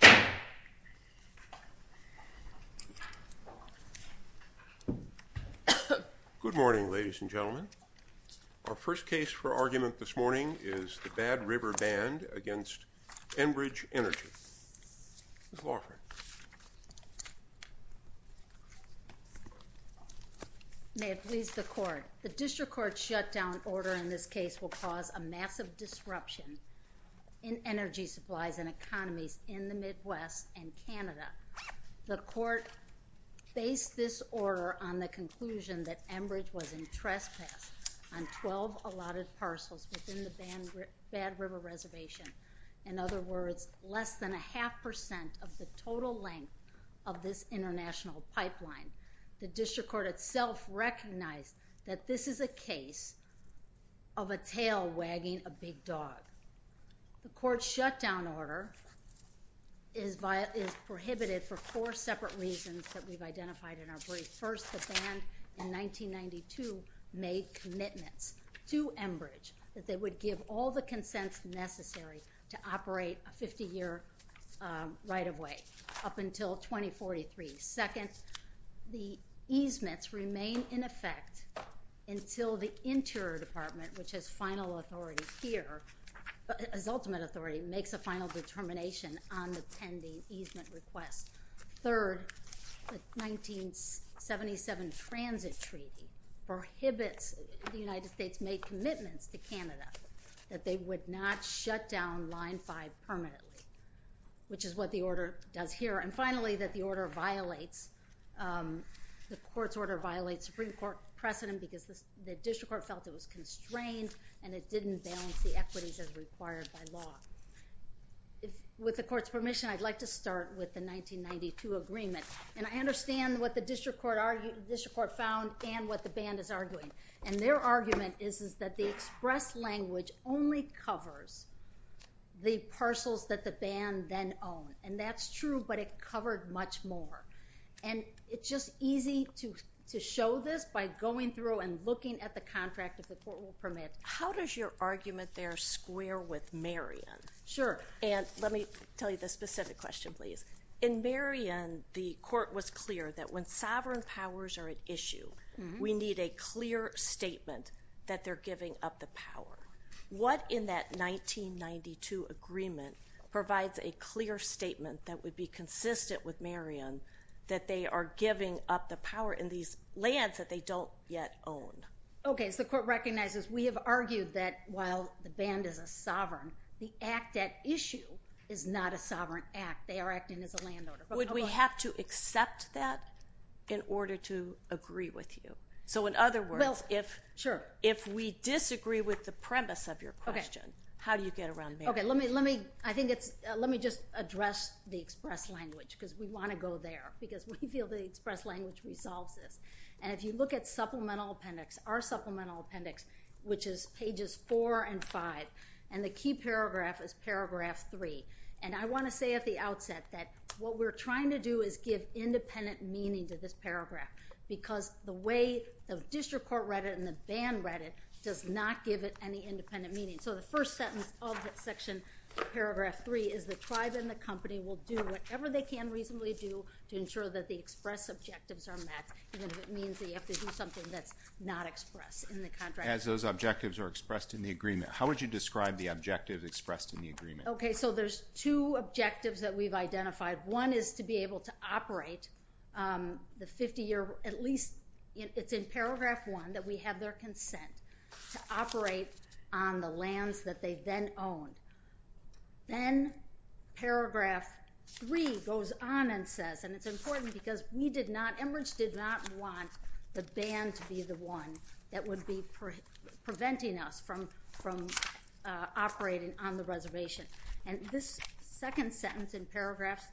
Good morning, ladies and gentlemen. Our first case for argument this morning is the Bad River Band v. Enbridge Energy. Ms. Loughran. May it please the Court. The District Court's shutdown order in this case will cause a massive disruption in energy supplies and economies in the Midwest and Canada. The Court based this order on the conclusion that Enbridge was in trespass on 12 allotted parcels within the Bad River Reservation, in other words, less than a half percent of the total length of this international pipeline. The District Court itself recognized that this is a case of a tail wagging a big dog. The Court's shutdown order is prohibited for four separate reasons that we've identified in our brief. First, the band in 1992 made commitments to Enbridge that they would give all the consents necessary to operate a 50-year right-of-way up until 2043. Second, the easements remain in effect until the Interior Department, which has final authority here, as ultimate authority, makes a final determination on the pending easement request. Third, the 1977 Transit Treaty prohibits the United States made commitments to Canada that they would not shut down Line 5 permanently, which is what the order does here. And finally, that the order violates, the Court's order violates Supreme Court precedent because the District Court felt it was constrained and it didn't balance the equities as required by law. With the Court's permission, I'd like to start with the 1992 agreement. And I understand what the District Court found and what the band is arguing. And their argument is that the express language only covers the parcels that the band then owned. And that's true, but it covered much more. And it's just easy to show this by going through and looking at the contract, if the Court will permit. How does your argument there square with Marion? Sure. And let me tell you the specific question, please. In Marion, the Court was clear that when sovereign powers are at issue, we need a clear statement that they're giving up the power. What in that 1992 agreement provides a clear statement that would be consistent with Marion that they are giving up the power in these lands that they don't yet own? Okay, so the Court recognizes we have argued that while the band is a sovereign, the act at issue is not a sovereign act. They are acting as a land owner. Would we have to accept that in order to agree with you? So in other words, if we disagree with the premise of your question, how do you get around Marion? Okay, let me just address the express language, because we want to go there, because we feel the express language resolves this. And if you look at Supplemental Appendix, our Supplemental Appendix, which is pages 4 and 5, and the key paragraph is paragraph 3. And I want to say at the outset that what we're trying to do is give independent meaning to this paragraph, because the way the District Court read it and the band read it does not give it any independent meaning. So the first sentence of that section, paragraph 3, is the tribe and the company will do whatever they can reasonably do to ensure that the express objectives are met. And if it means that you have to do something that's not expressed in the contract. As those objectives are expressed in the agreement, how would you describe the objective expressed in the agreement? Okay, so there's two objectives that we've identified. One is to be able to operate the 50-year, at least it's in paragraph 1 that we have their consent to operate on the lands that they then owned. Then paragraph 3 goes on and says, and it's important because we did not, Enbridge did not want the band to be the one that would be preventing us from operating on the reservation. And this second sentence in paragraph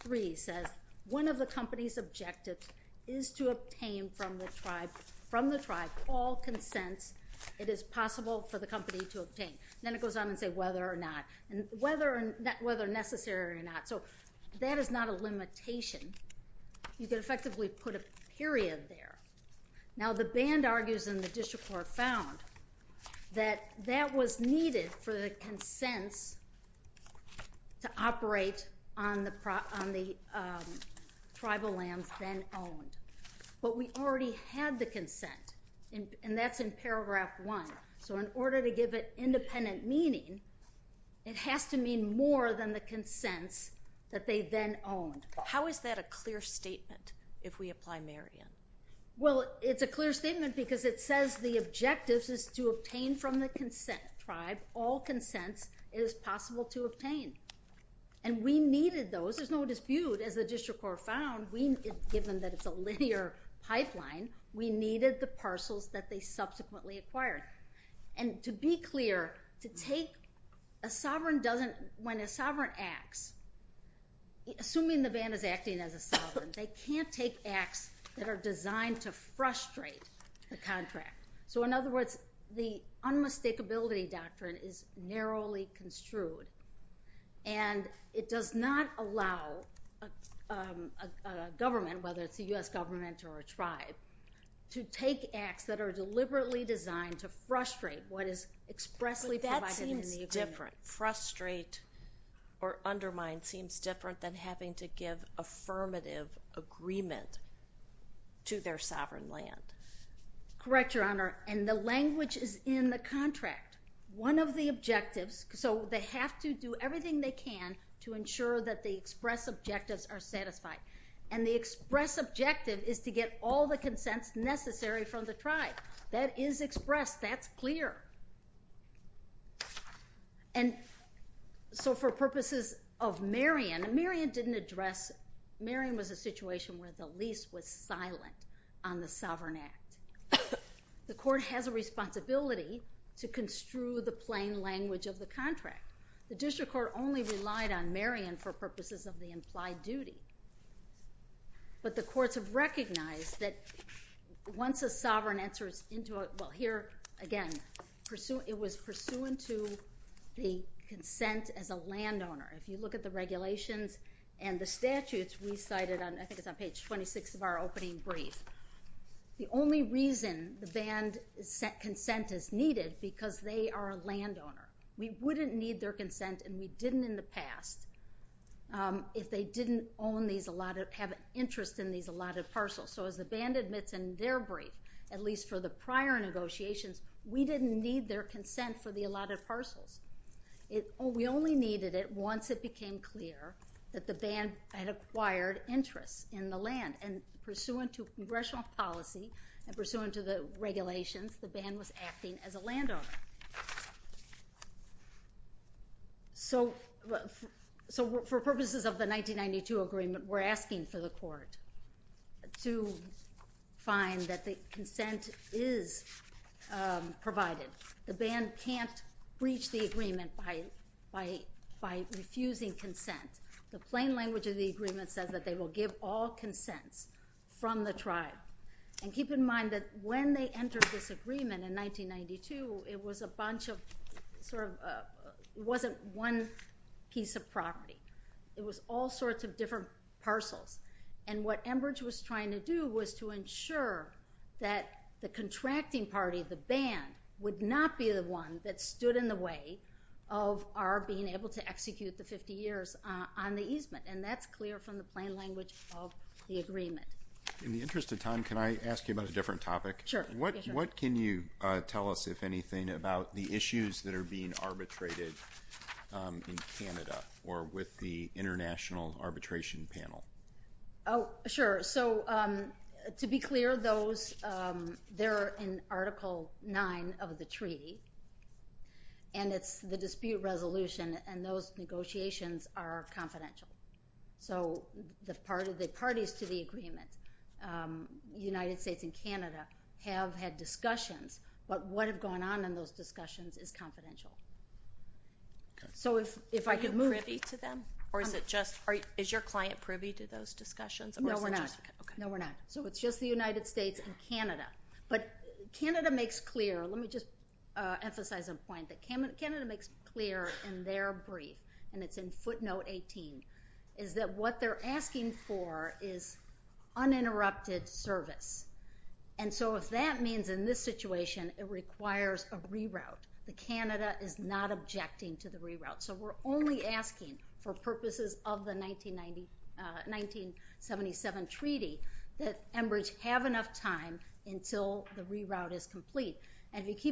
3 says, one of the company's objectives is to obtain from the tribe all consents it is possible for the company to obtain. Then it goes on and says whether or not, whether necessary or not. So that is not a limitation. You can effectively put a period there. Now the band argues in the district court found that that was needed for the consents to operate on the tribal lands then owned. But we already had the consent and that's in paragraph 1. So in order to give it independent meaning, it has to mean more than the consents that they then owned. How is that a clear statement if we apply Marion? Well it's a clear statement because it says the objective is to obtain from the tribe all consents it is possible to obtain. And we needed those, there's no dispute as the district court found, given that it's a linear pipeline, we needed the parcels that they subsequently acquired. And to be clear, to take a sovereign doesn't, when a sovereign acts, assuming the band is acting as a sovereign, they can't take acts that are designed to frustrate the contract. So in other words, the unmistakability doctrine is narrowly construed. And it does not allow a government, whether it's a U.S. government or a tribe, to take acts that are deliberately designed to frustrate what is expressly provided in the agreement. But that seems different. Frustrate or undermine seems different than having to give affirmative agreement to their sovereign land. Correct, Your Honor. And the language is in the contract. One of the objectives, so they have to do everything they can to ensure that the express objectives are satisfied. And the express objective is to get all the consents necessary from the tribe. That is expressed, that's clear. And so for purposes of Marion, Marion didn't address, Marion was a situation where the lease was silent on the sovereign act. The court has a responsibility to construe the plain language of the contract. The district court only relied on Marion for purposes of the implied duty. But the courts have recognized that once a sovereign enters into a, well here again, it was pursuant to the consent as a landowner. If you look at the regulations and the statutes we cited, I think it's on page 26 of our opening brief, the only reason the band consent is needed because they are a landowner. We wouldn't need their consent, and we didn't in the past, if they didn't own these allotted, have an interest in these allotted parcels. So as the band admits in their brief, at least for the prior negotiations, we didn't need their consent for the allotted parcels. We only needed it once it became clear that the band had acquired interest in the land. And pursuant to congressional policy and pursuant to the regulations, the band was acting as a landowner. So for purposes of the 1992 agreement, we're asking for the court to find that the consent is provided. The band can't breach the agreement by refusing consent. The plain language of the agreement says that they will give all consents from the tribe. And keep in mind that when they entered this agreement in 1992, it was a bunch of sort of, it wasn't one piece of property. It was all sorts of different parcels. And what Enbridge was trying to do was to ensure that the contracting party, the band, would not be the one that stood in the way of our being able to execute the 50 years on the easement. And that's clear from the plain language of the agreement. In the interest of time, can I ask you about a different topic? Sure. What can you tell us, if anything, about the issues that are being arbitrated in Canada or with the International Arbitration Panel? Oh, sure. So to be clear, those, they're in Article 9 of the treaty. And it's the dispute resolution. And those negotiations are confidential. So the parties to the agreement, United States and Canada, have had discussions. But what had gone on in those discussions is confidential. So if I could move... Are you privy to them? Or is it just, is your client privy to those discussions? No, we're not. No, we're not. So it's just the United States and Canada. But Canada makes clear, let me just emphasize a point, that Canada makes clear in their brief, and it's in footnote 18, is that what they're asking for is uninterrupted service. And so if that means in this situation, it requires a reroute, that Canada is not objecting to the reroute. So we're only asking for purposes of the 1977 treaty, that Enbridge have enough time until the reroute is complete. And if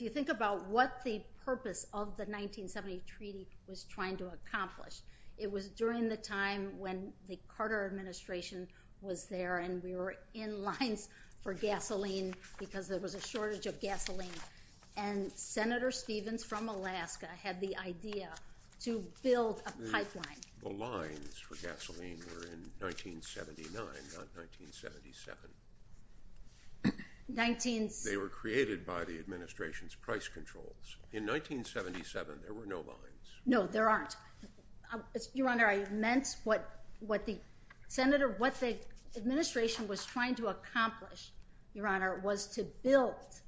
you think about what the purpose of the 1970 treaty was trying to accomplish, it was during the time when the Carter administration was there, and we were in lines for gasoline because there was a shortage of gasoline. And Senator Stevens from Alaska had the idea to build a pipeline. The lines for gasoline were in 1979, not 1977. They were created by the administration's price controls. In 1977, there were no lines. No, there aren't. Your Honor, I meant what the administration was trying to accomplish, Your Honor, was to build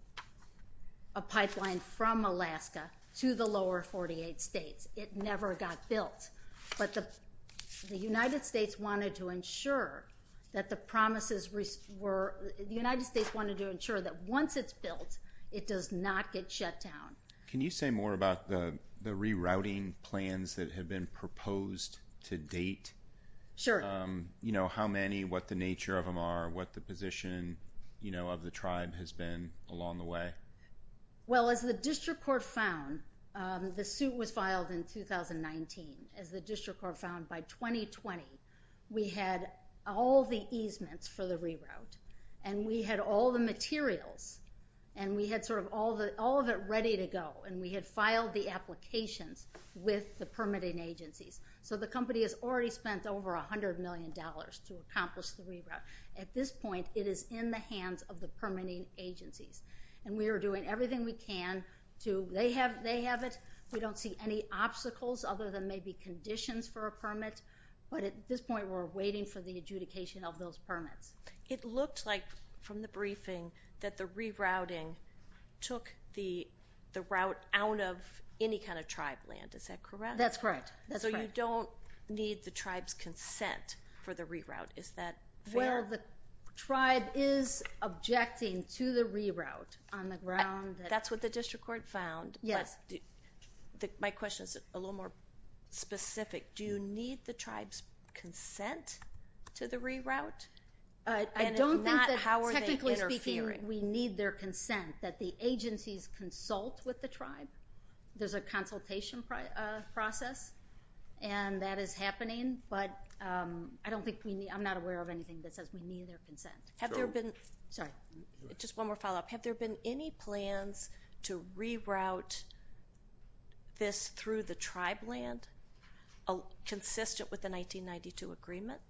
a pipeline from Alaska to the lower 48 states. It never got built. But the United States wanted to ensure that the promises were, the United States wanted to ensure that once it's built, it does not get shut down. Can you say more about the rerouting plans that have been proposed to date? Sure. You know, how many, what the nature of them are, what the position, you know, of the tribe has been along the way? Well, as the district court found, the suit was filed in 2019. As the district court found, by 2020, we had all the easements for the reroute, and we had all the materials, and we had sort of all of it ready to go, and we had filed the applications with the permitting agencies. So the company has already spent over $100 million to accomplish the reroute. At this point, it is in the hands of the permitting agencies. And we are doing everything we can to, they have it, we don't see any obstacles other than maybe conditions for a permit, but at this point, we're waiting for the adjudication of those permits. It looked like, from the briefing, that the rerouting took the route out of any kind of tribe land. Is that correct? That's correct. So you don't need the tribe's consent for the reroute. Is that fair? Well, the tribe is objecting to the reroute on the ground. That's what the district court found, but my question is a little more specific. Do you need the tribe's consent to the reroute? I don't think that, technically speaking, we need their consent, that the agencies consult with the tribe. There's a consultation process, and that is happening, but I don't think we need, I'm not aware of anything that says we need their consent. Have there been, sorry, just one more follow-up, have there been any plans to reroute this through the tribe land, consistent with the 1992 agreement?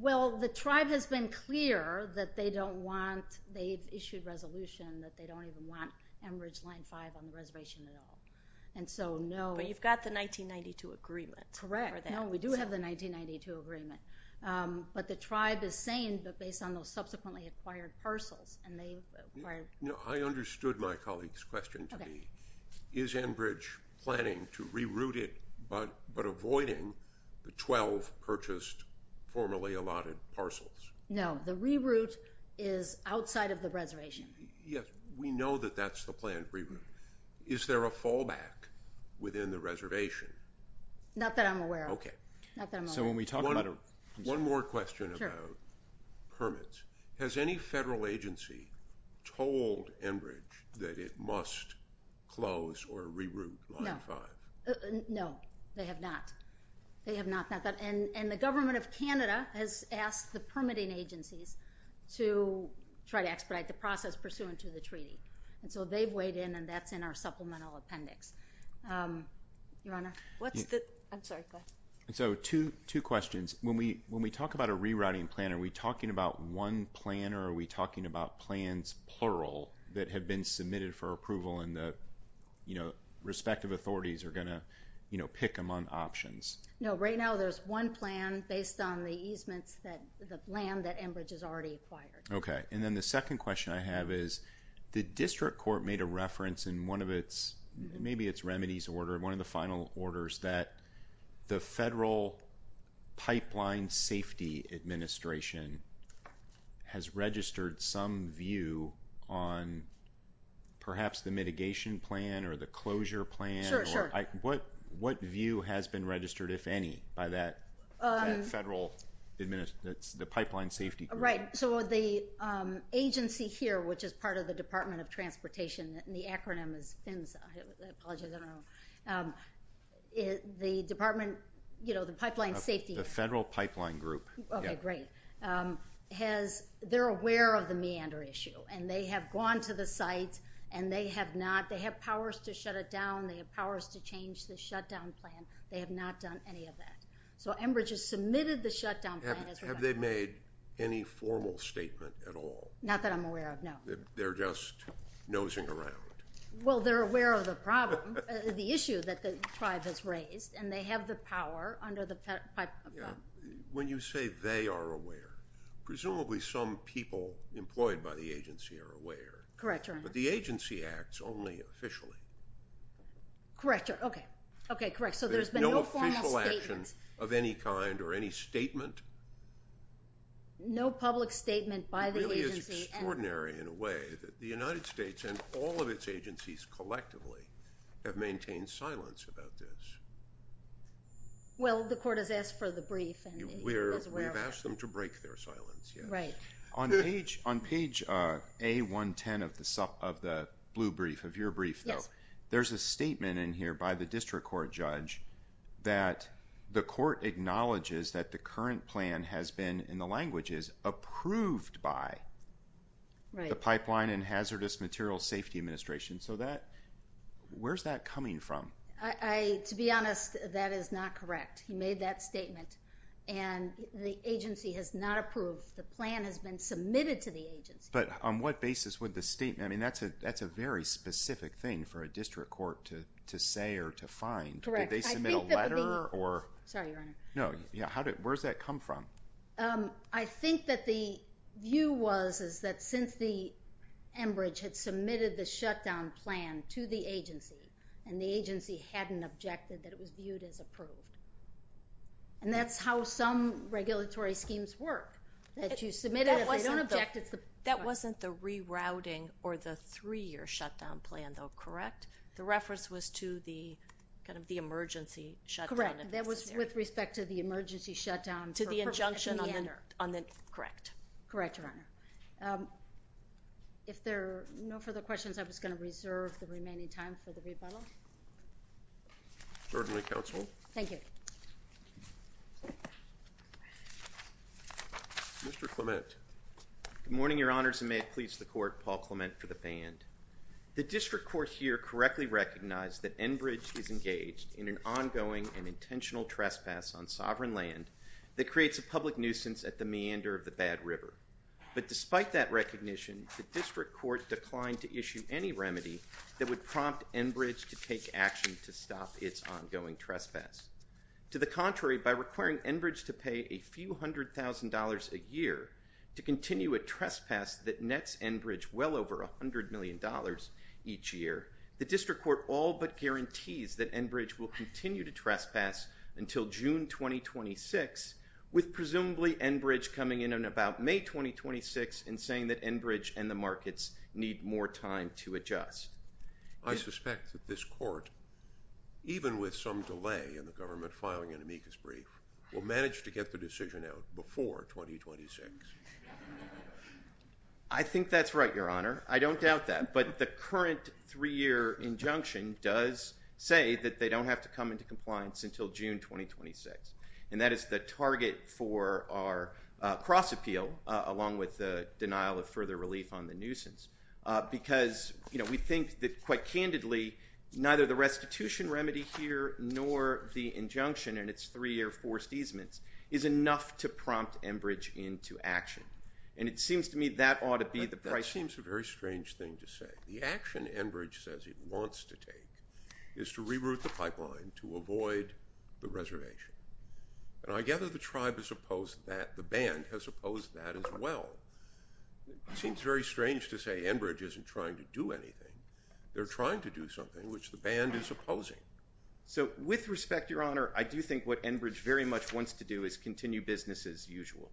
Well, the tribe has been clear that they don't want, they've issued resolution that they don't even want Enbridge Line 5 on the reservation at all. And so, no. But you've got the 1992 agreement. Correct. I'm not aware of that. No, we do have the 1992 agreement. But the tribe is saying, but based on those subsequently acquired parcels, and they've acquired... No, I understood my colleague's question to be, is Enbridge planning to reroute it, but avoiding the 12 purchased, formerly allotted parcels? No, the reroute is outside of the reservation. Yes, we know that that's the planned reroute. Is there a fallback within the reservation? Not that I'm aware of. Okay. Not that I'm aware of. So when we talk about a... One more question about permits. Has any federal agency told Enbridge that it must close or reroute Line 5? No. No. They have not. They have not. And the government of Canada has asked the permitting agencies to try to expedite the process pursuant to the treaty. And so they've weighed in, and that's in our supplemental appendix. Your Honor? What's the... I'm sorry. Go ahead. So two questions. When we talk about a rerouting plan, are we talking about one plan, or are we talking about plans, plural, that have been submitted for approval, and the respective authorities are going to pick among options? No. Right now, there's one plan based on the easements, the land that Enbridge has already acquired. Okay. And then the second question I have is, the district court made a reference in one of its... Maybe it's remedies order. One of the final orders that the Federal Pipeline Safety Administration has registered some view on perhaps the mitigation plan, or the closure plan. Sure. Sure. What view has been registered, if any, by that federal... The Pipeline Safety... Right. So the agency here, which is part of the Department of Transportation, and the acronym is FINSA. I apologize. I don't know. The Department... The Pipeline Safety... The Federal Pipeline Group. Okay. Great. Has... They're aware of the meander issue, and they have gone to the site, and they have not... They have powers to shut it down. They have powers to change the shutdown plan. They have not done any of that. So Enbridge has submitted the shutdown plan as we're going forward. Have they made any formal statement at all? Not that I'm aware of, no. They're just nosing around. Well, they're aware of the problem, the issue that the tribe has raised, and they have the power under the pipeline. When you say they are aware, presumably some people employed by the agency are aware. Correct, Your Honor. But the agency acts only officially. Correct, Your... Okay. Okay, correct. So there's been no formal statement. Yes. No formal action of any kind, or any statement? No public statement by the agency, and... It really is extraordinary, in a way, that the United States and all of its agencies collectively have maintained silence about this. Well, the court has asked for the brief, and it was aware of it. We've asked them to break their silence, yes. Right. On page A110 of the blue brief, of your brief, though, there's a statement in here by the The court acknowledges that the current plan has been, in the language is, approved by the Pipeline and Hazardous Materials Safety Administration. So that, where's that coming from? To be honest, that is not correct. He made that statement, and the agency has not approved. The plan has been submitted to the agency. But on what basis would the statement, I mean, that's a very specific thing for a district court to say or to find. Correct. I think that would be... Did they submit a letter, or... Sorry, Your Honor. No. Where's that come from? I think that the view was, is that since the Enbridge had submitted the shutdown plan to the agency, and the agency hadn't objected that it was viewed as approved, and that's how some regulatory schemes work, that you submit it, if they don't object, it's the... That wasn't the rerouting, or the three-year shutdown plan, though, correct? The reference was to the, kind of, the emergency shutdown, if necessary. Correct. That was with respect to the emergency shutdown... To the injunction on the... ...at the end. Correct. Correct, Your Honor. If there are no further questions, I was going to reserve the remaining time for the rebuttal. Certainly, Counsel. Thank you. Mr. Clement. Good morning, Your Honors, and may it please the Court, Paul Clement for the band. The District Court here correctly recognized that Enbridge is engaged in an ongoing and intentional trespass on sovereign land that creates a public nuisance at the meander of the Bad River, but despite that recognition, the District Court declined to issue any remedy that would prompt Enbridge to take action to stop its ongoing trespass. To the contrary, by requiring Enbridge to pay a few hundred thousand dollars a year to continue a trespass that nets Enbridge well over $100 million each year, the District Court all but guarantees that Enbridge will continue to trespass until June 2026, with presumably Enbridge coming in on about May 2026 and saying that Enbridge and the markets need more time to adjust. I suspect that this Court, even with some delay in the government filing an amicus brief, will manage to get the decision out before 2026. I think that's right, Your Honor. I don't doubt that, but the current three-year injunction does say that they don't have to come into compliance until June 2026, and that is the target for our cross-appeal, along with the denial of further relief on the nuisance, because, you know, we think that quite candidly neither the restitution remedy here nor the injunction and its three-year forced easements is enough to prompt Enbridge into action. And it seems to me that ought to be the price point. That seems a very strange thing to say. The action Enbridge says it wants to take is to reroute the pipeline to avoid the reservation. And I gather the tribe has opposed that, the band has opposed that as well. It seems very strange to say Enbridge isn't trying to do anything. They're trying to do something, which the band is opposing. So with respect, Your Honor, I do think what Enbridge very much wants to do is continue business as usual.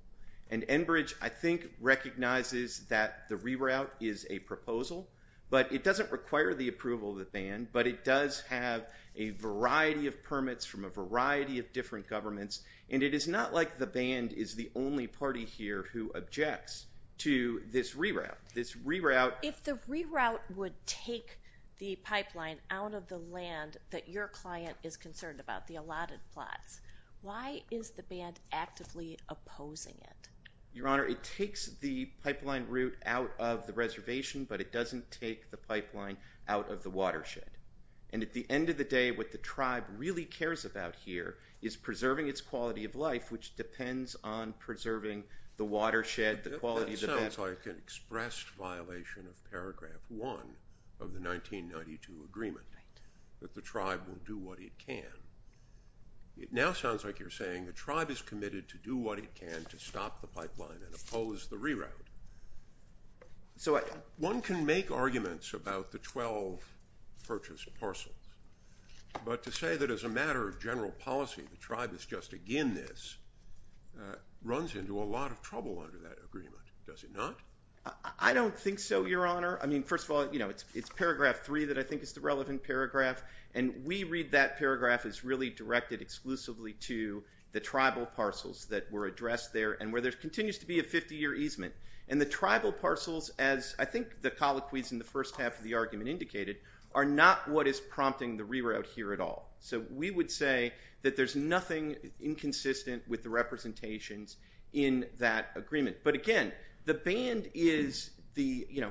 And Enbridge, I think, recognizes that the reroute is a proposal, but it doesn't require the approval of the band, but it does have a variety of permits from a variety of different governments, and it is not like the band is the only party here who objects to this reroute. If the reroute would take the pipeline out of the land that your client is concerned about, the allotted plots, why is the band actively opposing it? Your Honor, it takes the pipeline route out of the reservation, but it doesn't take the pipeline out of the watershed. And at the end of the day, what the tribe really cares about here is preserving its quality of life, which depends on preserving the watershed, the quality of the band. That sounds like an expressed violation of Paragraph 1 of the 1992 agreement, that the tribe will do what it can. It now sounds like you're saying the tribe is committed to do what it can to stop the pipeline and oppose the reroute. One can make arguments about the 12 purchased parcels, but to say that as a matter of general does it not? I don't think so, Your Honor. First of all, it's Paragraph 3 that I think is the relevant paragraph, and we read that paragraph as really directed exclusively to the tribal parcels that were addressed there and where there continues to be a 50-year easement. And the tribal parcels, as I think the colloquies in the first half of the argument indicated, are not what is prompting the reroute here at all. So we would say that there's nothing inconsistent with the representations in that agreement. But again, the band is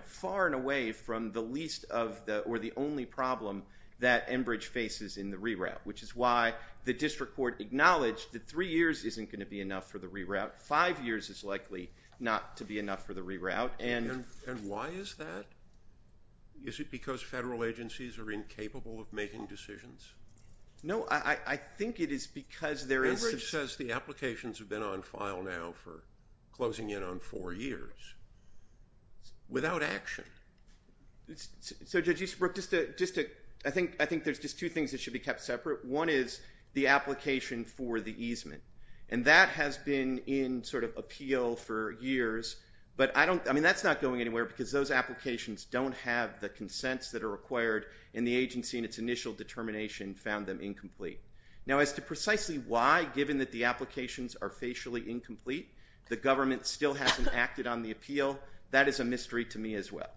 far and away from the least or the only problem that Enbridge faces in the reroute, which is why the district court acknowledged that three years isn't going to be enough for the reroute. Five years is likely not to be enough for the reroute. And why is that? Is it because federal agencies are incapable of making decisions? No, I think it is because there is some— without action. So Judge Easterbrook, I think there's just two things that should be kept separate. One is the application for the easement, and that has been in sort of appeal for years. But I mean, that's not going anywhere because those applications don't have the consents that are required, and the agency in its initial determination found them incomplete. Now as to precisely why, given that the applications are facially incomplete, the government still hasn't acted on the appeal, that is a mystery to me as well.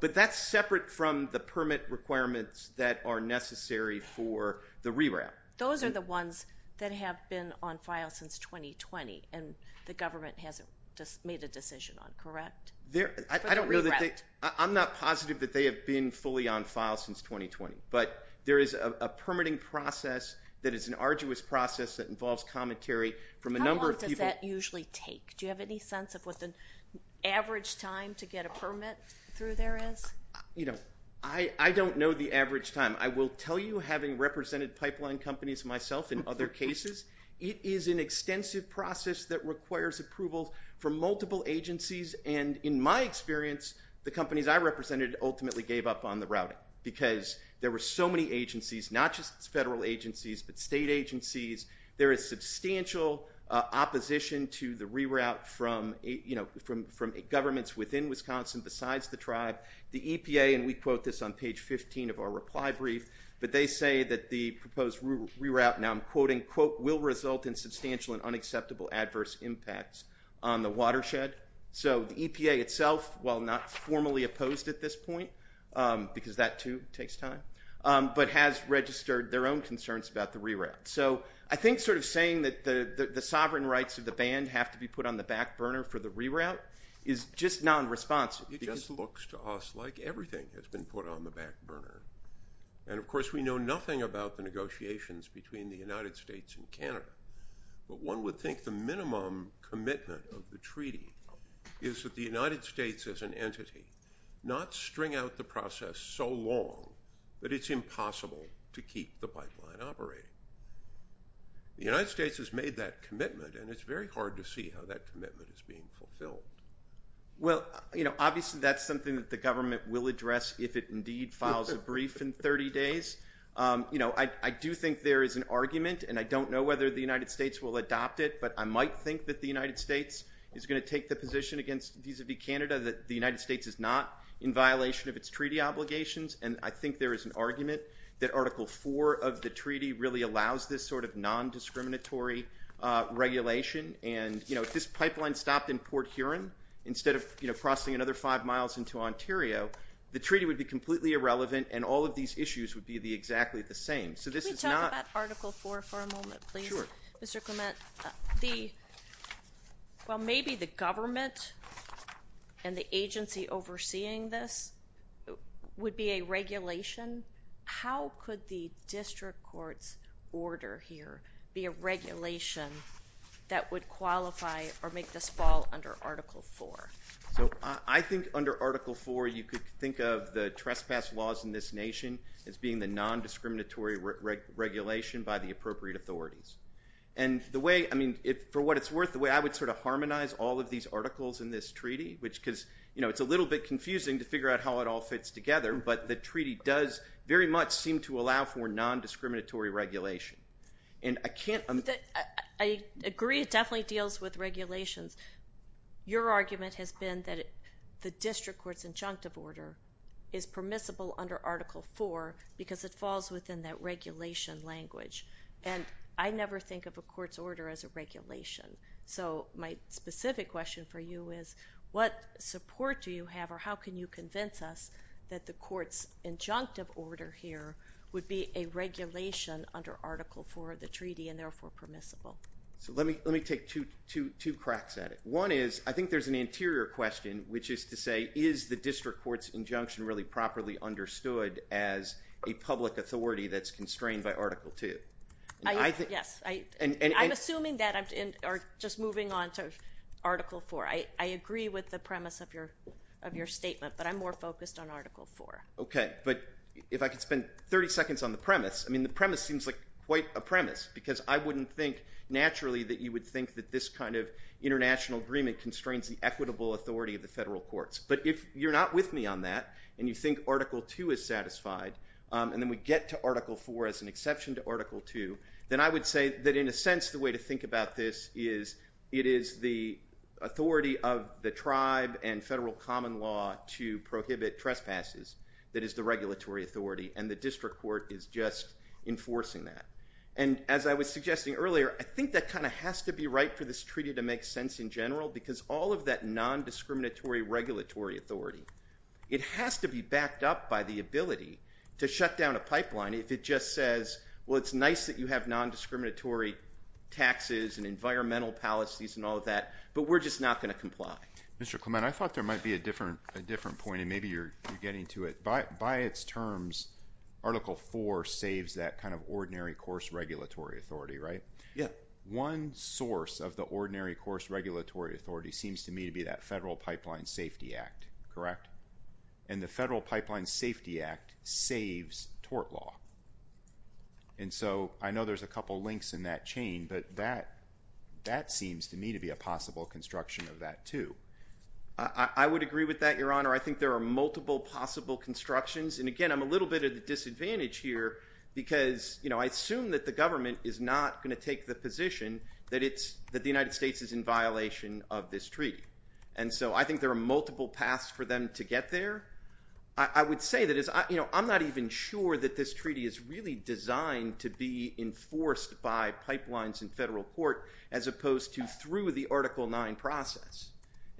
But that's separate from the permit requirements that are necessary for the reroute. Those are the ones that have been on file since 2020, and the government hasn't made a decision on, correct? I don't know that they—I'm not positive that they have been fully on file since 2020. But there is a permitting process that is an arduous process that involves commentary from a number of people— How long does that usually take? Do you have any sense of what the average time to get a permit through there is? You know, I don't know the average time. I will tell you, having represented pipeline companies myself in other cases, it is an extensive process that requires approval from multiple agencies, and in my experience, the companies I represented ultimately gave up on the routing because there were so many agencies, not just federal agencies, but state agencies. There is substantial opposition to the reroute from governments within Wisconsin besides the tribe. The EPA, and we quote this on page 15 of our reply brief, but they say that the proposed reroute, now I'm quoting, quote, will result in substantial and unacceptable adverse impacts on the watershed. So the EPA itself, while not formally opposed at this point, because that too takes time, but has registered their own concerns about the reroute. So I think sort of saying that the sovereign rights of the band have to be put on the back burner for the reroute is just nonresponsive. It just looks to us like everything has been put on the back burner. And, of course, we know nothing about the negotiations between the United States and Canada, but one would think the minimum commitment of the treaty is that the United States as an entity not string out the process so long that it's impossible to keep the pipeline operating. The United States has made that commitment, and it's very hard to see how that commitment is being fulfilled. Well, obviously that's something that the government will address if it indeed files a brief in 30 days. I do think there is an argument, and I don't know whether the United States will adopt it, but I might think that the United States is going to take the position against Vis-a-vis Canada that the United States is not in violation of its treaty obligations. And I think there is an argument that Article 4 of the treaty really allows this sort of nondiscriminatory regulation. And if this pipeline stopped in Port Huron instead of crossing another five miles into Ontario, the treaty would be completely irrelevant and all of these issues would be exactly the same. Can we talk about Article 4 for a moment, please? Sure. Well, maybe the government and the agency overseeing this would be a regulation. How could the district court's order here be a regulation that would qualify or make this fall under Article 4? I think under Article 4 you could think of the trespass laws in this nation as being the nondiscriminatory regulation by the appropriate authorities. And for what it's worth, the way I would sort of harmonize all of these articles in this treaty, because it's a little bit confusing to figure out how it all fits together, but the treaty does very much seem to allow for nondiscriminatory regulation. I agree it definitely deals with regulations. Your argument has been that the district court's injunctive order is permissible under Article 4 because it falls within that regulation language. And I never think of a court's order as a regulation. So my specific question for you is what support do you have or how can you convince us that the court's injunctive order here would be a regulation under Article 4 of the treaty and therefore permissible? So let me take two cracks at it. One is I think there's an anterior question, which is to say, is the district court's injunction really properly understood as a public authority that's constrained by Article 2? Yes. I'm assuming that or just moving on to Article 4. I agree with the premise of your statement, but I'm more focused on Article 4. Okay. But if I could spend 30 seconds on the premise, I mean, the premise seems like quite a premise because I wouldn't think naturally that you would think that this kind of international agreement constrains the equitable authority of the federal courts. But if you're not with me on that and you think Article 2 is satisfied, and then we get to Article 4 as an exception to Article 2, then I would say that in a sense, the way to think about this is it is the authority of the tribe and federal common law to prohibit trespasses that is the regulatory authority, and the district court is just enforcing that. And as I was suggesting earlier, I think that kind of has to be right for this treaty to make sense in general because all of that nondiscriminatory regulatory authority, it has to be backed up by the ability to shut down a pipeline if it just says, well, it's nice that you have nondiscriminatory taxes and environmental policies and all of that, but we're just not going to comply. Mr. Clement, I thought there might be a different point, and maybe you're getting to it. By its terms, Article 4 saves that kind of ordinary course regulatory authority, right? Yeah. One source of the ordinary course regulatory authority seems to me to be that and the Federal Pipeline Safety Act saves tort law. And so I know there's a couple links in that chain, but that seems to me to be a possible construction of that too. I would agree with that, Your Honor. I think there are multiple possible constructions, and again I'm a little bit at a disadvantage here because I assume that the government is not going to take the position that the United States is in violation of this treaty. And so I think there are multiple paths for them to get there. I would say that I'm not even sure that this treaty is really designed to be enforced by pipelines in federal court as opposed to through the Article 9 process.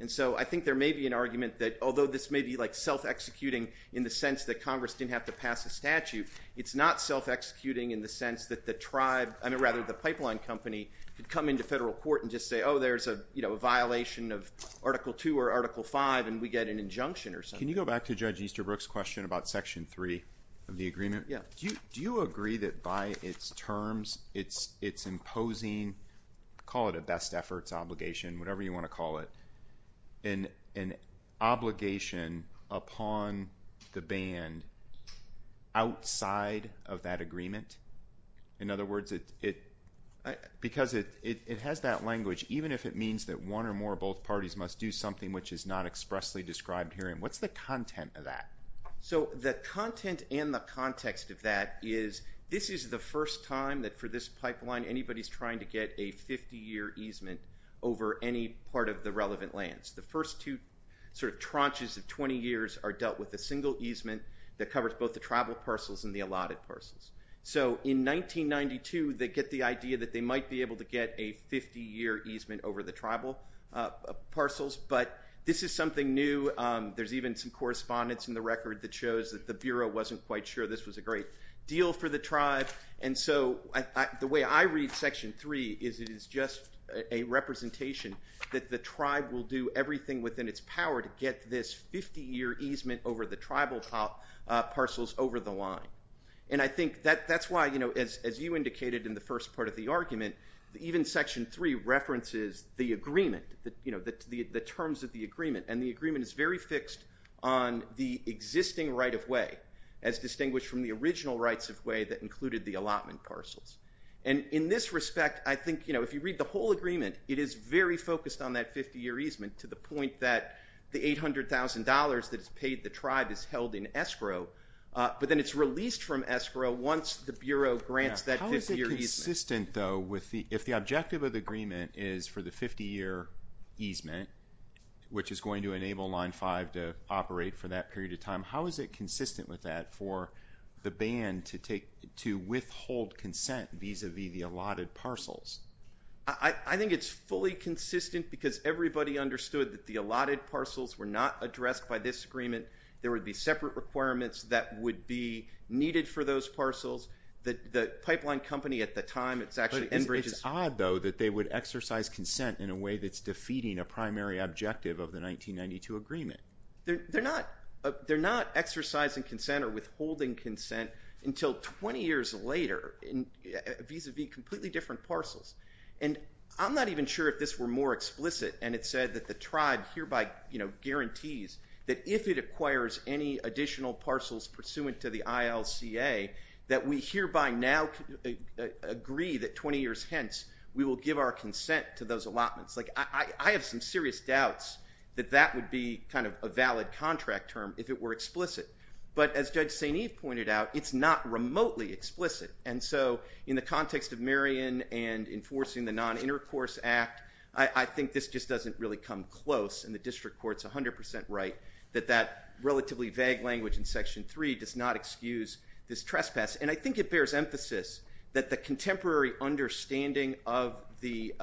And so I think there may be an argument that although this may be like self-executing in the sense that Congress didn't have to pass a statute, it's not self-executing in the sense that the pipeline company could come into federal court and just say, oh, there's a violation of Article 2 or Article 5 and we get an injunction or something. Can you go back to Judge Easterbrook's question about Section 3 of the agreement? Yeah. Do you agree that by its terms it's imposing, call it a best efforts obligation, whatever you want to call it, an obligation upon the band outside of that agreement? In other words, because it has that language, even if it means that one or more of both parties must do something which is not expressly described here, what's the content of that? So the content and the context of that is this is the first time that for this pipeline anybody's trying to get a 50-year easement over any part of the relevant lands. The first two sort of tranches of 20 years are dealt with a single easement that covers both the tribal parcels and the allotted parcels. So in 1992 they get the idea that they might be able to get a 50-year easement over the tribal parcels, but this is something new. There's even some correspondence in the record that shows that the Bureau wasn't quite sure this was a great deal for the tribe. And so the way I read Section 3 is it is just a representation that the tribe will do everything within its power to get this 50-year easement over the tribal parcels over the line. And I think that's why, as you indicated in the first part of the argument, even Section 3 references the agreement, the terms of the agreement, and the agreement is very fixed on the existing right-of-way as distinguished from the original rights-of-way that included the allotment parcels. And in this respect, I think if you read the whole agreement, it is very focused on that 50-year easement to the point that the $800,000 that is paid the tribe is held in escrow, but then it's released from escrow once the Bureau grants that 50-year easement. How is it consistent, though, if the objective of the agreement is for the 50-year easement, which is going to enable Line 5 to operate for that period of time, how is it consistent with that for the ban to withhold consent vis-à-vis the allotted parcels? I think it's fully consistent because everybody understood that the allotted parcels were not addressed by this agreement. There would be separate requirements that would be needed for those parcels. The pipeline company at the time, it's actually Enbridge's— But it's odd, though, that they would exercise consent in a way that's defeating a primary objective of the 1992 agreement. They're not exercising consent or withholding consent until 20 years later vis-à-vis completely different parcels. And I'm not even sure if this were more explicit, and it said that the tribe hereby guarantees that if it acquires any additional parcels pursuant to the ILCA, that we hereby now agree that 20 years hence we will give our consent to those allotments. Like, I have some serious doubts that that would be kind of a valid contract term if it were explicit. But as Judge St. Eve pointed out, it's not remotely explicit. And so in the context of Marion and enforcing the Non-Intercourse Act, I think this just doesn't really come close, and the district court's 100 percent right, that that relatively vague language in Section 3 does not excuse this trespass. And I think it bears emphasis that the contemporary understanding of the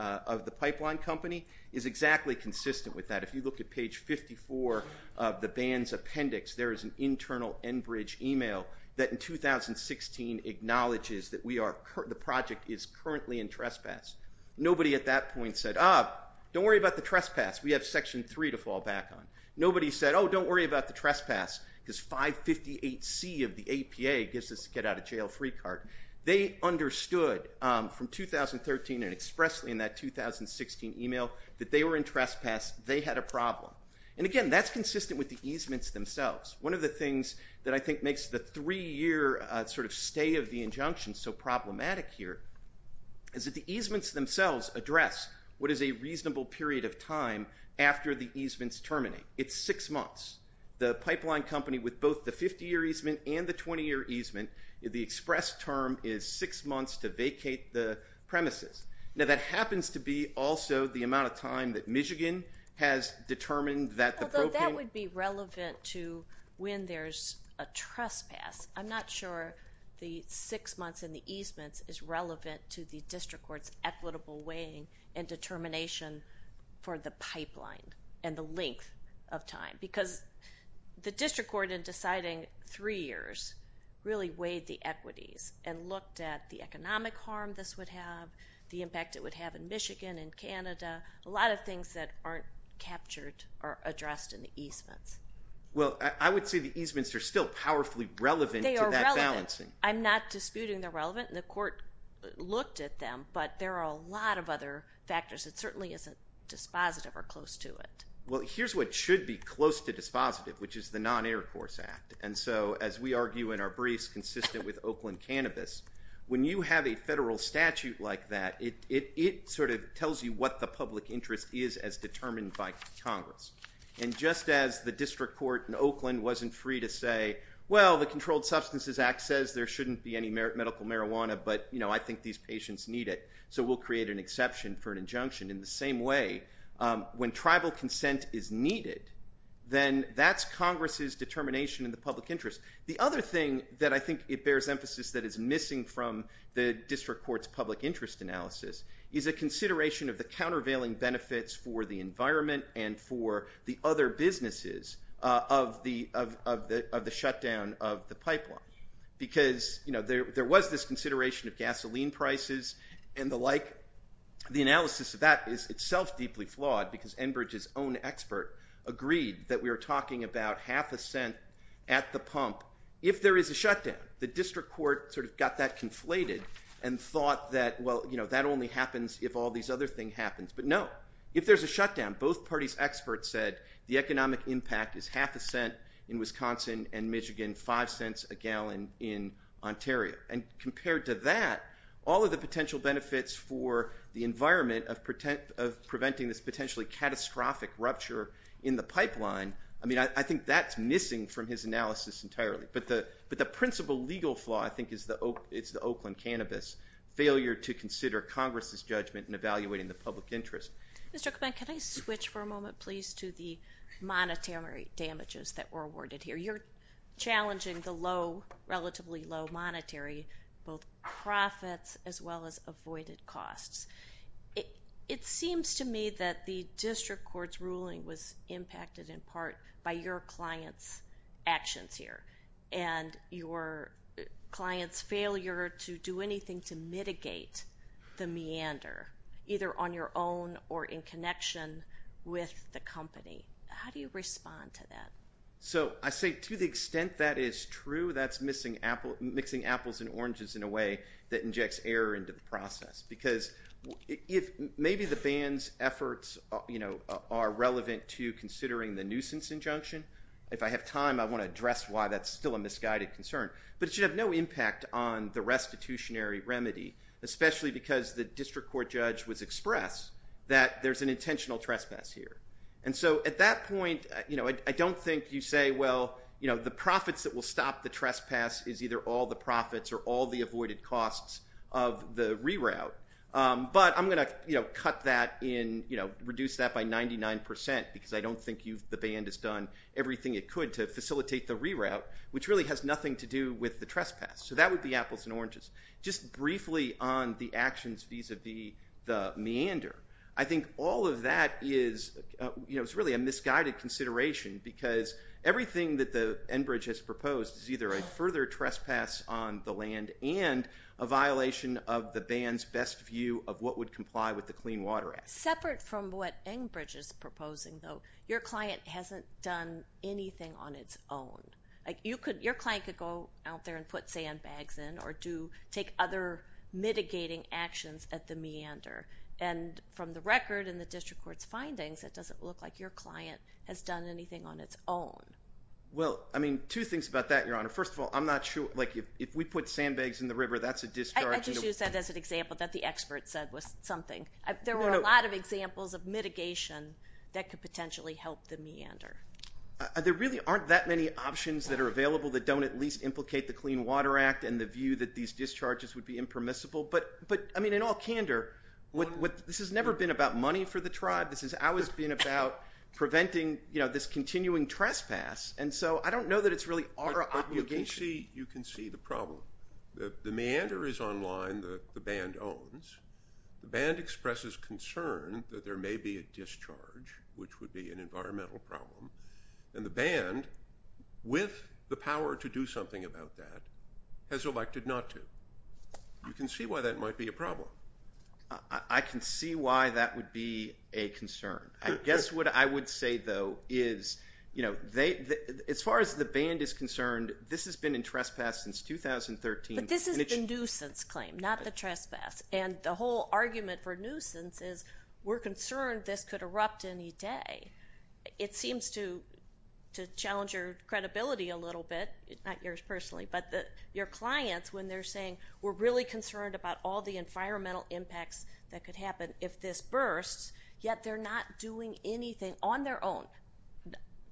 pipeline company is exactly consistent with that. If you look at page 54 of the ban's appendix, there is an internal Enbridge email that, in 2016, acknowledges that the project is currently in trespass. Nobody at that point said, ah, don't worry about the trespass. We have Section 3 to fall back on. Nobody said, oh, don't worry about the trespass because 558C of the APA gives us a get out of jail free card. They understood from 2013 and expressly in that 2016 email that they were in trespass. They had a problem. And again, that's consistent with the easements themselves. One of the things that I think makes the three-year sort of stay of the injunction so problematic here is that the easements themselves address what is a reasonable period of time after the easements terminate. It's six months. The pipeline company with both the 50-year easement and the 20-year easement, the express term is six months to vacate the premises. Now, that happens to be also the amount of time that Michigan has determined that the propane Although that would be relevant to when there's a trespass. I'm not sure the six months in the easements is relevant to the district court's equitable weighing and determination for the pipeline and the length of time. Because the district court in deciding three years really weighed the equities and looked at the economic harm this would have, the impact it would have in Michigan and Canada, a lot of things that aren't captured or addressed in the easements. Well, I would say the easements are still powerfully relevant to that balancing. They are relevant. I'm not disputing they're relevant. The court looked at them, but there are a lot of other factors. It certainly isn't dispositive or close to it. Well, here's what should be close to dispositive, which is the Non-Intercourse Act. And so, as we argue in our briefs consistent with Oakland Cannabis, when you have a federal statute like that, it sort of tells you what the public interest is as determined by Congress. And just as the district court in Oakland wasn't free to say, well, the Controlled Substances Act says there shouldn't be any medical marijuana, but I think these patients need it, so we'll create an exception for an injunction. In the same way, when tribal consent is needed, then that's Congress's determination in the public interest. The other thing that I think it bears emphasis that is missing from the district court's public interest analysis is a consideration of the countervailing benefits for the environment and for the other businesses of the shutdown of the pipeline. Because, you know, there was this consideration of gasoline prices and the like. The analysis of that is itself deeply flawed because Enbridge's own expert agreed that we were talking about half a cent at the pump if there is a shutdown. The district court sort of got that conflated and thought that, well, you know, that only happens if all these other things happen. But no, if there's a shutdown, both parties' experts said the economic impact is half a cent in Wisconsin and Michigan, five cents a gallon in Ontario. And compared to that, all of the potential benefits for the environment of preventing this potentially catastrophic rupture in the pipeline, I mean, I think that's missing from his analysis entirely. But the principal legal flaw, I think, is the Oakland Cannabis, failure to consider Congress's judgment in evaluating the public interest. Mr. Komen, can I switch for a moment, please, to the monetary damages that were awarded here? You're challenging the low, relatively low monetary, both profits as well as avoided costs. It seems to me that the district court's ruling was impacted in part by your client's actions here and your client's failure to do anything to mitigate the meander, either on your own or in connection with the company. How do you respond to that? So I say to the extent that is true, that's mixing apples and oranges in a way that injects error into the process, because maybe the ban's efforts are relevant to considering the nuisance injunction. If I have time, I want to address why that's still a misguided concern. But it should have no impact on the restitutionary remedy, especially because the district court judge was expressed that there's an intentional trespass here. And so at that point, I don't think you say, well, the profits that will stop the trespass is either all the profits or all the avoided costs of the reroute. But I'm going to cut that in, reduce that by 99% because I don't think the ban has done everything it could to facilitate the reroute, which really has nothing to do with the trespass. So that would be apples and oranges. Just briefly on the actions vis-a-vis the meander, I think all of that is really a misguided consideration because everything that Enbridge has proposed is either a further trespass on the land and a violation of the ban's best view of what would comply with the Clean Water Act. Separate from what Enbridge is proposing, though, your client hasn't done anything on its own. Your client could go out there and put sandbags in or take other mitigating actions at the meander. And from the record in the district court's findings, it doesn't look like your client has done anything on its own. Well, I mean, two things about that, Your Honor. First of all, I'm not sure, like if we put sandbags in the river, that's a discharge. I just used that as an example that the expert said was something. There were a lot of examples of mitigation that could potentially help the meander. There really aren't that many options that are available that don't at least implicate the Clean Water Act and the view that these discharges would be impermissible. But, I mean, in all candor, this has never been about money for the tribe. This has always been about preventing, you know, this continuing trespass. And so I don't know that it's really our obligation. But you can see the problem. The meander is online that the band owns. The band expresses concern that there may be a discharge, which would be an environmental problem. And the band, with the power to do something about that, has elected not to. You can see why that might be a problem. I can see why that would be a concern. I guess what I would say, though, is, you know, as far as the band is concerned, this has been in trespass since 2013. But this is the nuisance claim, not the trespass. And the whole argument for nuisance is we're concerned this could erupt any day. It seems to challenge your credibility a little bit, not yours personally, but your clients when they're saying, we're really concerned about all the environmental impacts that could happen if this bursts, yet they're not doing anything on their own,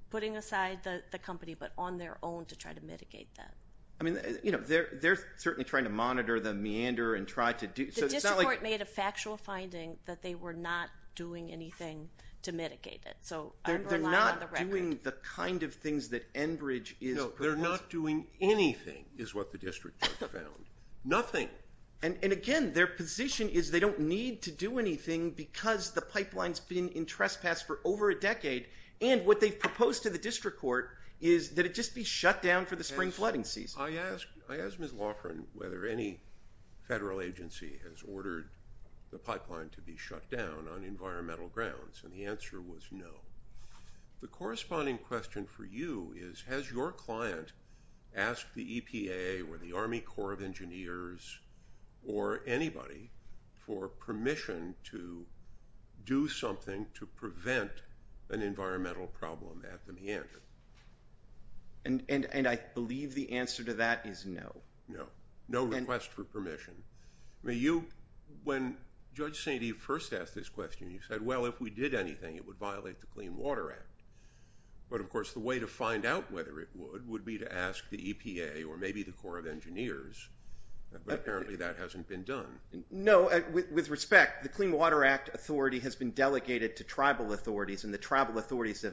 putting aside the company, but on their own to try to mitigate that. I mean, you know, they're certainly trying to monitor the meander and try to do so. The district court made a factual finding that they were not doing anything to mitigate it. So I'm relying on the record. They're not doing the kind of things that Enbridge is. They're not doing anything, is what the district court found, nothing. And, again, their position is they don't need to do anything because the pipeline's been in trespass for over a decade. And what they've proposed to the district court is that it just be shut down for the spring flooding season. I asked Ms. Loughran whether any federal agency has ordered the pipeline to be shut down on environmental grounds, and the answer was no. The corresponding question for you is has your client asked the EPA or the Army Corps of Engineers or anybody for permission to do something to prevent an environmental problem at the meander? And I believe the answer to that is no. No, no request for permission. I mean, you, when Judge St. Eve first asked this question, you said, well, if we did anything, it would violate the Clean Water Act. But, of course, the way to find out whether it would would be to ask the EPA or maybe the Corps of Engineers, but apparently that hasn't been done. No, with respect, the Clean Water Act authority has been delegated to tribal authorities, and the tribal authorities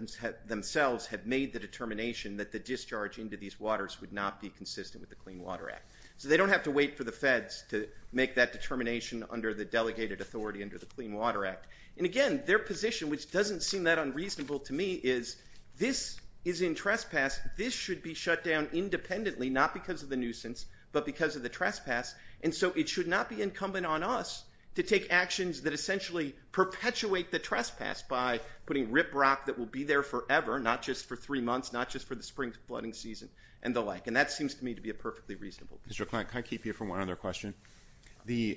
themselves have made the determination that the discharge into these waters would not be consistent with the Clean Water Act. So they don't have to wait for the feds to make that determination under the delegated authority under the Clean Water Act. And, again, their position, which doesn't seem that unreasonable to me, is this is in trespass. This should be shut down independently, not because of the nuisance, but because of the trespass. And so it should not be incumbent on us to take actions that essentially perpetuate the trespass by putting riprock that will be there forever, not just for three months, not just for the spring flooding season and the like. And that seems to me to be a perfectly reasonable position. Mr. O'Klank, can I keep you from one other question? The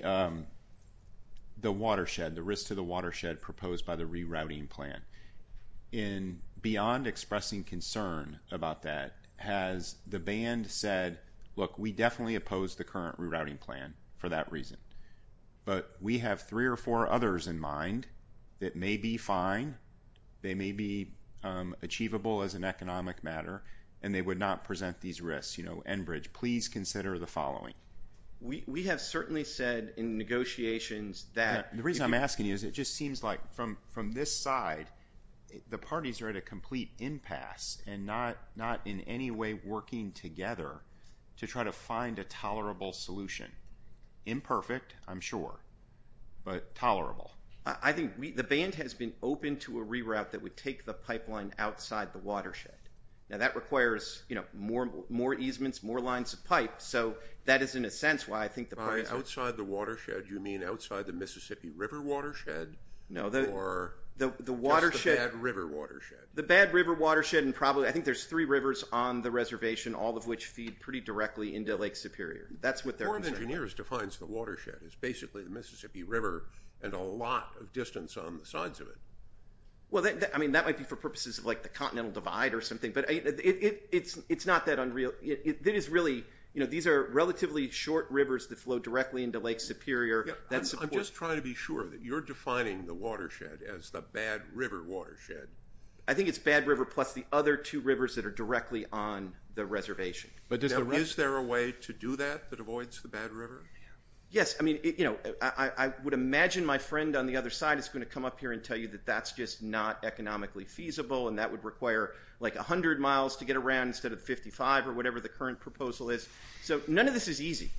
watershed, the risk to the watershed proposed by the rerouting plan, and beyond expressing concern about that, has the band said, look, we definitely oppose the current rerouting plan for that reason, but we have three or four others in mind that may be fine, they may be achievable as an economic matter, and they would not present these risks. You know, Enbridge, please consider the following. We have certainly said in negotiations that— The reason I'm asking you is it just seems like from this side, the parties are at a complete impasse and not in any way working together to try to find a tolerable solution. Imperfect, I'm sure, but tolerable. I think the band has been open to a reroute that would take the pipeline outside the watershed. Now that requires, you know, more easements, more lines of pipe, so that is in a sense why I think the parties— By outside the watershed, you mean outside the Mississippi River watershed? No, the watershed— Or just the Bad River watershed? The Bad River watershed, and probably I think there's three rivers on the reservation, all of which feed pretty directly into Lake Superior. That's what they're saying. The Board of Engineers defines the watershed as basically the Mississippi River and a lot of distance on the sides of it. Well, I mean, that might be for purposes of, like, the continental divide or something, but it's not that unreal. It is really—you know, these are relatively short rivers that flow directly into Lake Superior. I'm just trying to be sure that you're defining the watershed as the Bad River watershed. I think it's Bad River plus the other two rivers that are directly on the reservation. But is there a way to do that that avoids the Bad River? Yes. I mean, you know, I would imagine my friend on the other side is going to come up here and tell you that that's just not economically feasible and that would require, like, 100 miles to get around instead of 55 or whatever the current proposal is. So none of this is easy.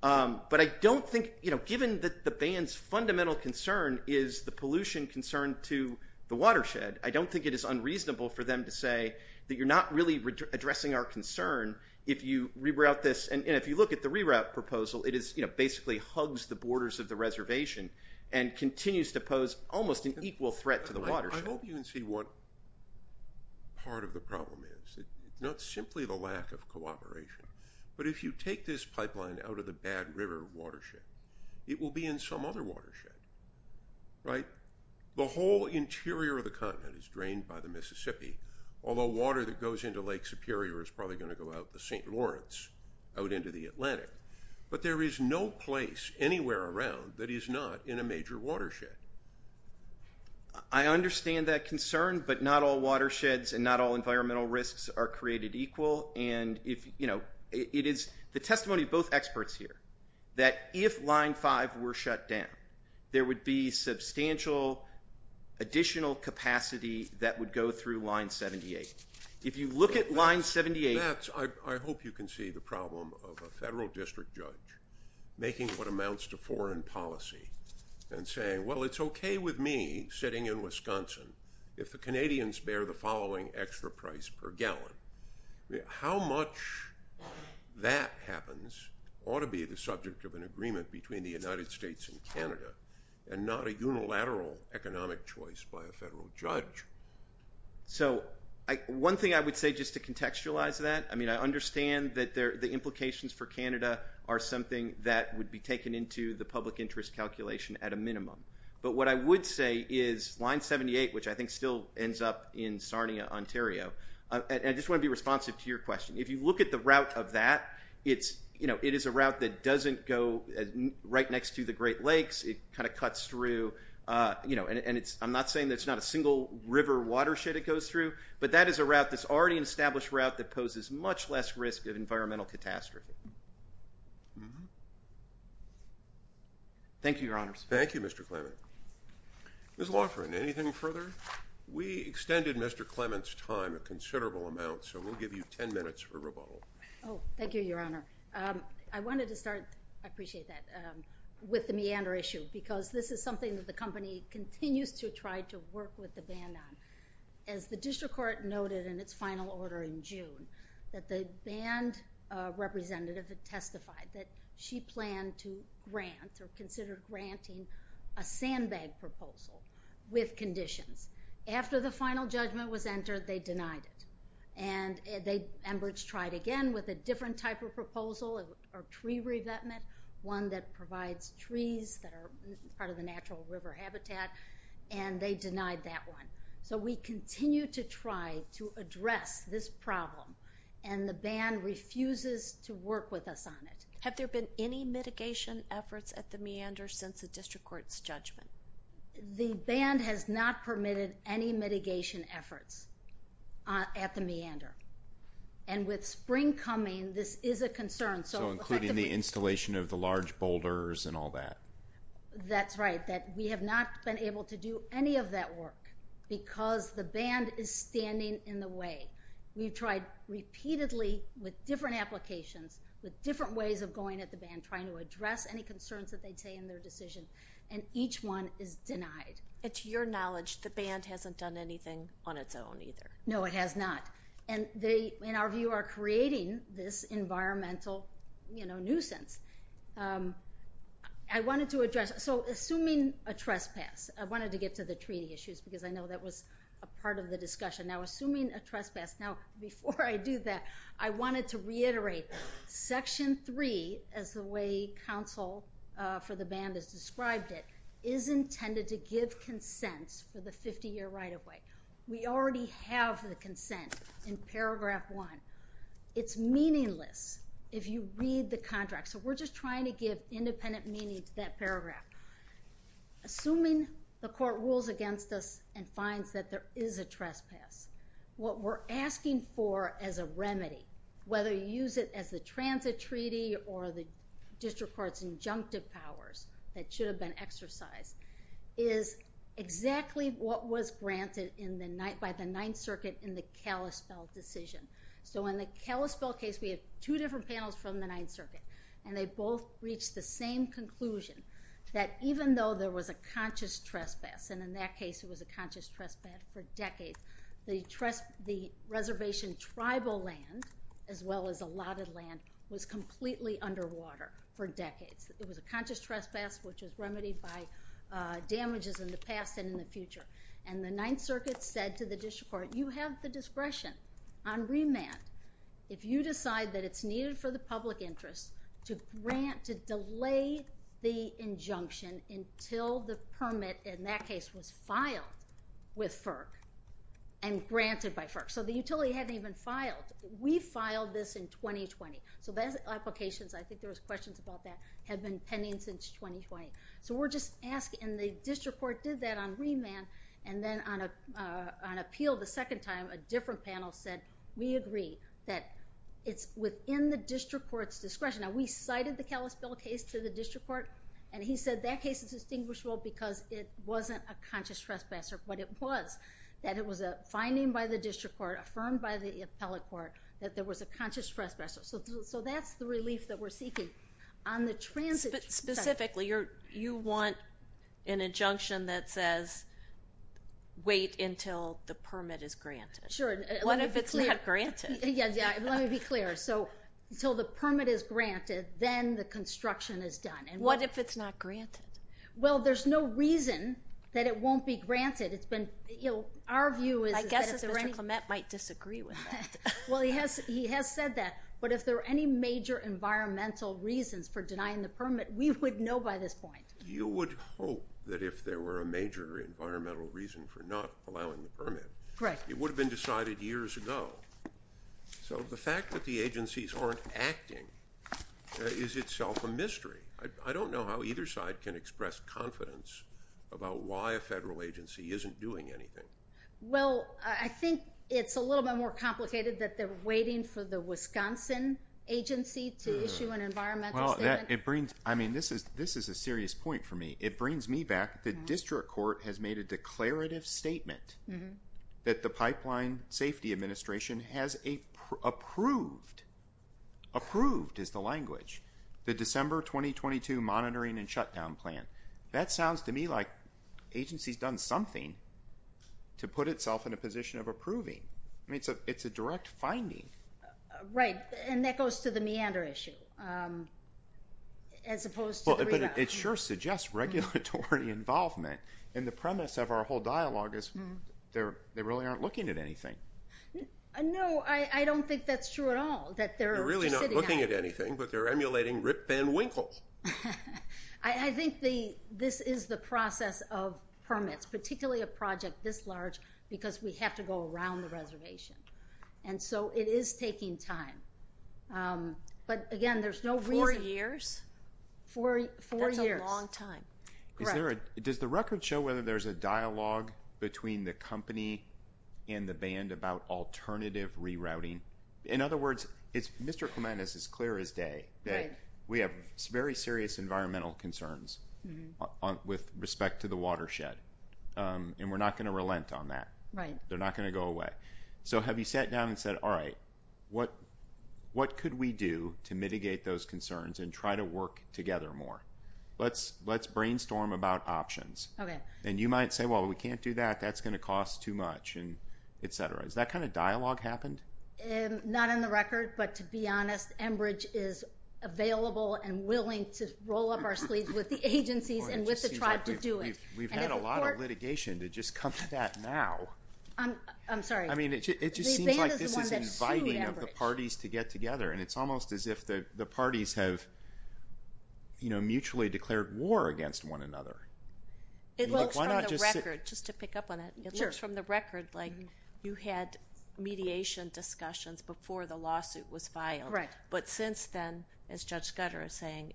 But I don't think—you know, given that the band's fundamental concern is the pollution concern to the watershed, I don't think it is unreasonable for them to say that you're not really addressing our concern if you reroute this. And if you look at the reroute proposal, it basically hugs the borders of the reservation I hope you can see what part of the problem is. It's not simply the lack of cooperation. But if you take this pipeline out of the Bad River watershed, it will be in some other watershed, right? The whole interior of the continent is drained by the Mississippi, although water that goes into Lake Superior is probably going to go out the St. Lawrence, out into the Atlantic. But there is no place anywhere around that is not in a major watershed. I understand that concern, but not all watersheds and not all environmental risks are created equal. And, you know, it is the testimony of both experts here that if Line 5 were shut down, there would be substantial additional capacity that would go through Line 78. If you look at Line 78— I hope you can see the problem of a federal district judge making what amounts to foreign policy and saying, well, it's okay with me sitting in Wisconsin if the Canadians bear the following extra price per gallon. How much that happens ought to be the subject of an agreement between the United States and Canada and not a unilateral economic choice by a federal judge. So one thing I would say just to contextualize that, I mean, I understand that the implications for Canada are something that would be taken into the public interest calculation at a minimum. But what I would say is Line 78, which I think still ends up in Sarnia, Ontario— I just want to be responsive to your question. If you look at the route of that, it is a route that doesn't go right next to the Great Lakes. It kind of cuts through. And I'm not saying that it's not a single river watershed it goes through, but that is a route that's already an established route that poses much less risk of environmental catastrophe. Thank you, Your Honors. Thank you, Mr. Clement. Ms. Loughran, anything further? We extended Mr. Clement's time a considerable amount, so we'll give you 10 minutes for rebuttal. Thank you, Your Honor. I wanted to start—I appreciate that—with the meander issue because this is something that the company continues to try to work with the ban on. As the district court noted in its final order in June, that the banned representative had testified that she planned to grant or considered granting a sandbag proposal with conditions. After the final judgment was entered, they denied it. And Enbridge tried again with a different type of proposal, a tree revetment, one that provides trees that are part of the natural river habitat, and they denied that one. So we continue to try to address this problem, and the ban refuses to work with us on it. Have there been any mitigation efforts at the meander since the district court's judgment? The ban has not permitted any mitigation efforts at the meander. And with spring coming, this is a concern. So including the installation of the large boulders and all that? That's right, that we have not been able to do any of that work because the ban is standing in the way. We've tried repeatedly with different applications, with different ways of going at the ban, trying to address any concerns that they'd say in their decision, and each one is denied. And to your knowledge, the ban hasn't done anything on its own either? No, it has not. And they, in our view, are creating this environmental nuisance. I wanted to address, so assuming a trespass, I wanted to get to the treaty issues because I know that was a part of the discussion. Now assuming a trespass, now before I do that, I wanted to reiterate, Section 3, as the way counsel for the ban has described it, is intended to give consents for the 50-year right-of-way. We already have the consent in Paragraph 1. It's meaningless if you read the contract. So we're just trying to give independent meaning to that paragraph. Assuming the court rules against us and finds that there is a trespass, what we're asking for as a remedy, whether you use it as the transit treaty or the district court's injunctive powers that should have been exercised, is exactly what was granted by the Ninth Circuit in the Kalispell decision. So in the Kalispell case, we had two different panels from the Ninth Circuit, and they both reached the same conclusion, that even though there was a conscious trespass, and in that case it was a conscious trespass for decades, the reservation tribal land as well as allotted land was completely underwater for decades. It was a conscious trespass which was remedied by damages in the past and in the future. And the Ninth Circuit said to the district court, you have the discretion on remand if you decide that it's needed for the public interest to delay the injunction until the permit, in that case, was filed with FERC and granted by FERC. So the utility hadn't even filed. We filed this in 2020. So those applications, I think there was questions about that, have been pending since 2020. So we're just asking, and the district court did that on remand, and then on appeal the second time, a different panel said, we agree that it's within the district court's discretion. Now we cited the Kalispell case to the district court, and he said that case is distinguishable because it wasn't a conscious trespasser, but it was. That it was a finding by the district court, affirmed by the appellate court, that there was a conscious trespasser. So that's the relief that we're seeking. Specifically, you want an injunction that says, wait until the permit is granted. Sure. What if it's not granted? Yeah, let me be clear. So until the permit is granted, then the construction is done. What if it's not granted? Well, there's no reason that it won't be granted. It's been, you know, our view is. I guess Mr. Clement might disagree with that. Well, he has said that. But if there are any major environmental reasons for denying the permit, we would know by this point. You would hope that if there were a major environmental reason for not allowing the permit. Correct. It would have been decided years ago. So the fact that the agencies aren't acting is itself a mystery. I don't know how either side can express confidence about why a federal agency isn't doing anything. Well, I think it's a little bit more complicated that they're waiting for the Wisconsin agency to issue an environmental statement. Well, it brings, I mean, this is a serious point for me. It brings me back. The district court has made a declarative statement that the pipeline safety administration has approved. Approved is the language. The December 2022 monitoring and shutdown plan. That sounds to me like agencies done something to put itself in a position of approving. I mean, it's a direct finding. Right. And that goes to the meander issue. As opposed to. It sure suggests regulatory involvement. And the premise of our whole dialogue is they really aren't looking at anything. No, I don't think that's true at all. That they're really not looking at anything, but they're emulating Rip Van Winkle. I think the, this is the process of permits, particularly a project this large because we have to go around the reservation. And so it is taking time. But again, there's no. Four years. Four, four years. Long time. Is there a, does the record show whether there's a dialogue between the company and the band about alternative rerouting? In other words, it's Mr. Recommend is as clear as day. We have very serious environmental concerns. With respect to the watershed. And we're not going to relent on that. Right. They're not going to go away. So have you sat down and said, all right, what. What could we do to mitigate those concerns and try to work together more. Let's let's brainstorm about options. Okay. And you might say, well, we can't do that. That's going to cost too much. And et cetera. Is that kind of dialogue happened? Not in the record, but to be honest, Enbridge is available and willing to roll up our sleeves with the agencies and with the tribe to do it. We've had a lot of litigation to just come to that now. I'm sorry. I mean, it just seems like this is inviting of the parties to get together. And it's almost as if the parties have, you know, mutually declared war against one another. It looks like just to pick up on it. It looks from the record like you had mediation discussions before the lawsuit was filed. Right. But since then, as Judge Scudder is saying,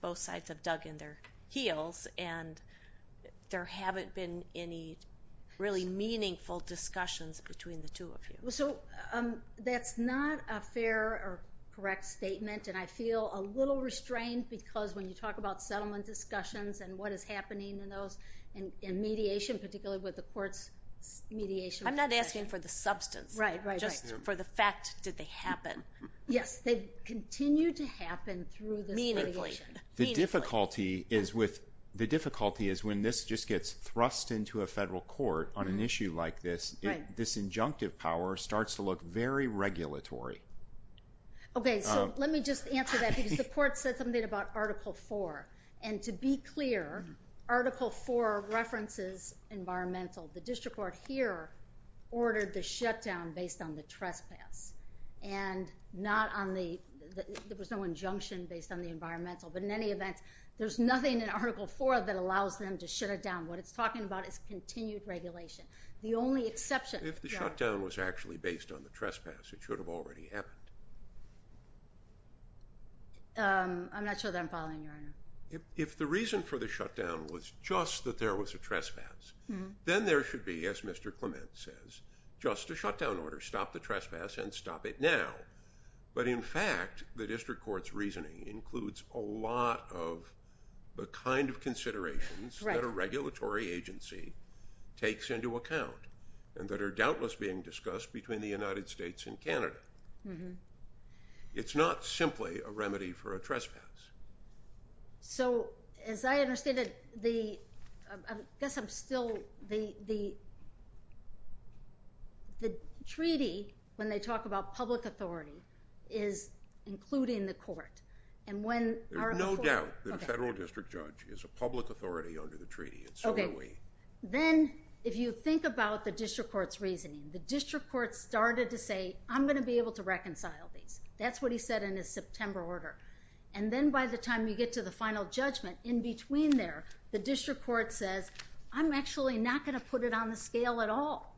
both sides have dug in their heels and there haven't been any really meaningful discussions between the two of you. So that's not a fair or correct statement. And I feel a little restrained because when you talk about settlement discussions and what is happening in those and mediation, particularly with the court's mediation. I'm not asking for the substance, just for the fact that they happen. Yes. They continue to happen through this mediation. Meaningfully. The difficulty is when this just gets thrust into a federal court on an issue like this, this injunctive power starts to look very regulatory. Okay. So let me just answer that because the court said something about Article 4. And to be clear, Article 4 references environmental. The district court here ordered the shutdown based on the trespass. And there was no injunction based on the environmental. But in any event, there's nothing in Article 4 that allows them to shut it down. What it's talking about is continued regulation. The only exception. If the shutdown was actually based on the trespass, it should have already happened. I'm not sure that I'm following, Your Honor. If the reason for the shutdown was just that there was a trespass, then there should be, as Mr. Clement says, just a shutdown order. Stop the trespass and stop it now. But in fact, the district court's reasoning includes a lot of the kind of considerations that a regulatory agency takes into account and that are doubtless being discussed between the United States and Canada. It's not simply a remedy for a trespass. So as I understand it, the treaty, when they talk about public authority, is including the court. There's no doubt that a federal district judge is a public authority under the treaty and so are we. Then if you think about the district court's reasoning, the district court started to say, I'm going to be able to reconcile these. That's what he said in his September order. And then by the time you get to the final judgment, in between there, the district court says, I'm actually not going to put it on the scale at all.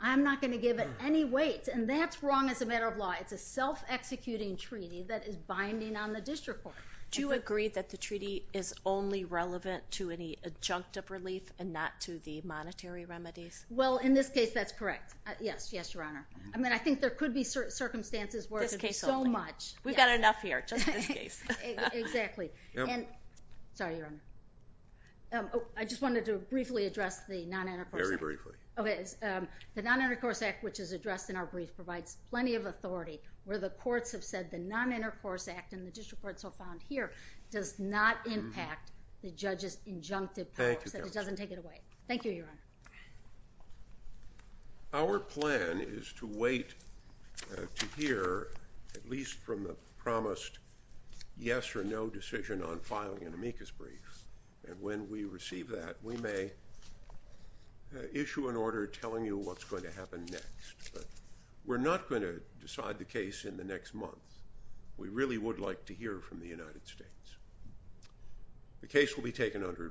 I'm not going to give it any weight. And that's wrong as a matter of law. It's a self-executing treaty that is binding on the district court. Do you agree that the treaty is only relevant to any adjunctive relief and not to the monetary remedies? Well, in this case, that's correct. Yes. Yes, Your Honor. I mean, I think there could be certain circumstances where it would be so much. We've got enough here. Just in this case. Sorry, Your Honor. I just wanted to briefly address the non-intercourse act. Very briefly. The non-intercourse act, which is addressed in our brief, provides plenty of authority where the courts have said the non-intercourse act and the district court so found here does not impact the judge's injunctive powers. Thank you, Your Honor. Our plan is to wait to hear, at least from the promised yes or no decision on filing an amicus brief. And when we receive that, we may issue an order telling you what's going to happen next. But we're not going to decide the case in the next month. We really would like to hear from the United States. The case will be taken under advisement. Thank you, Your Honor.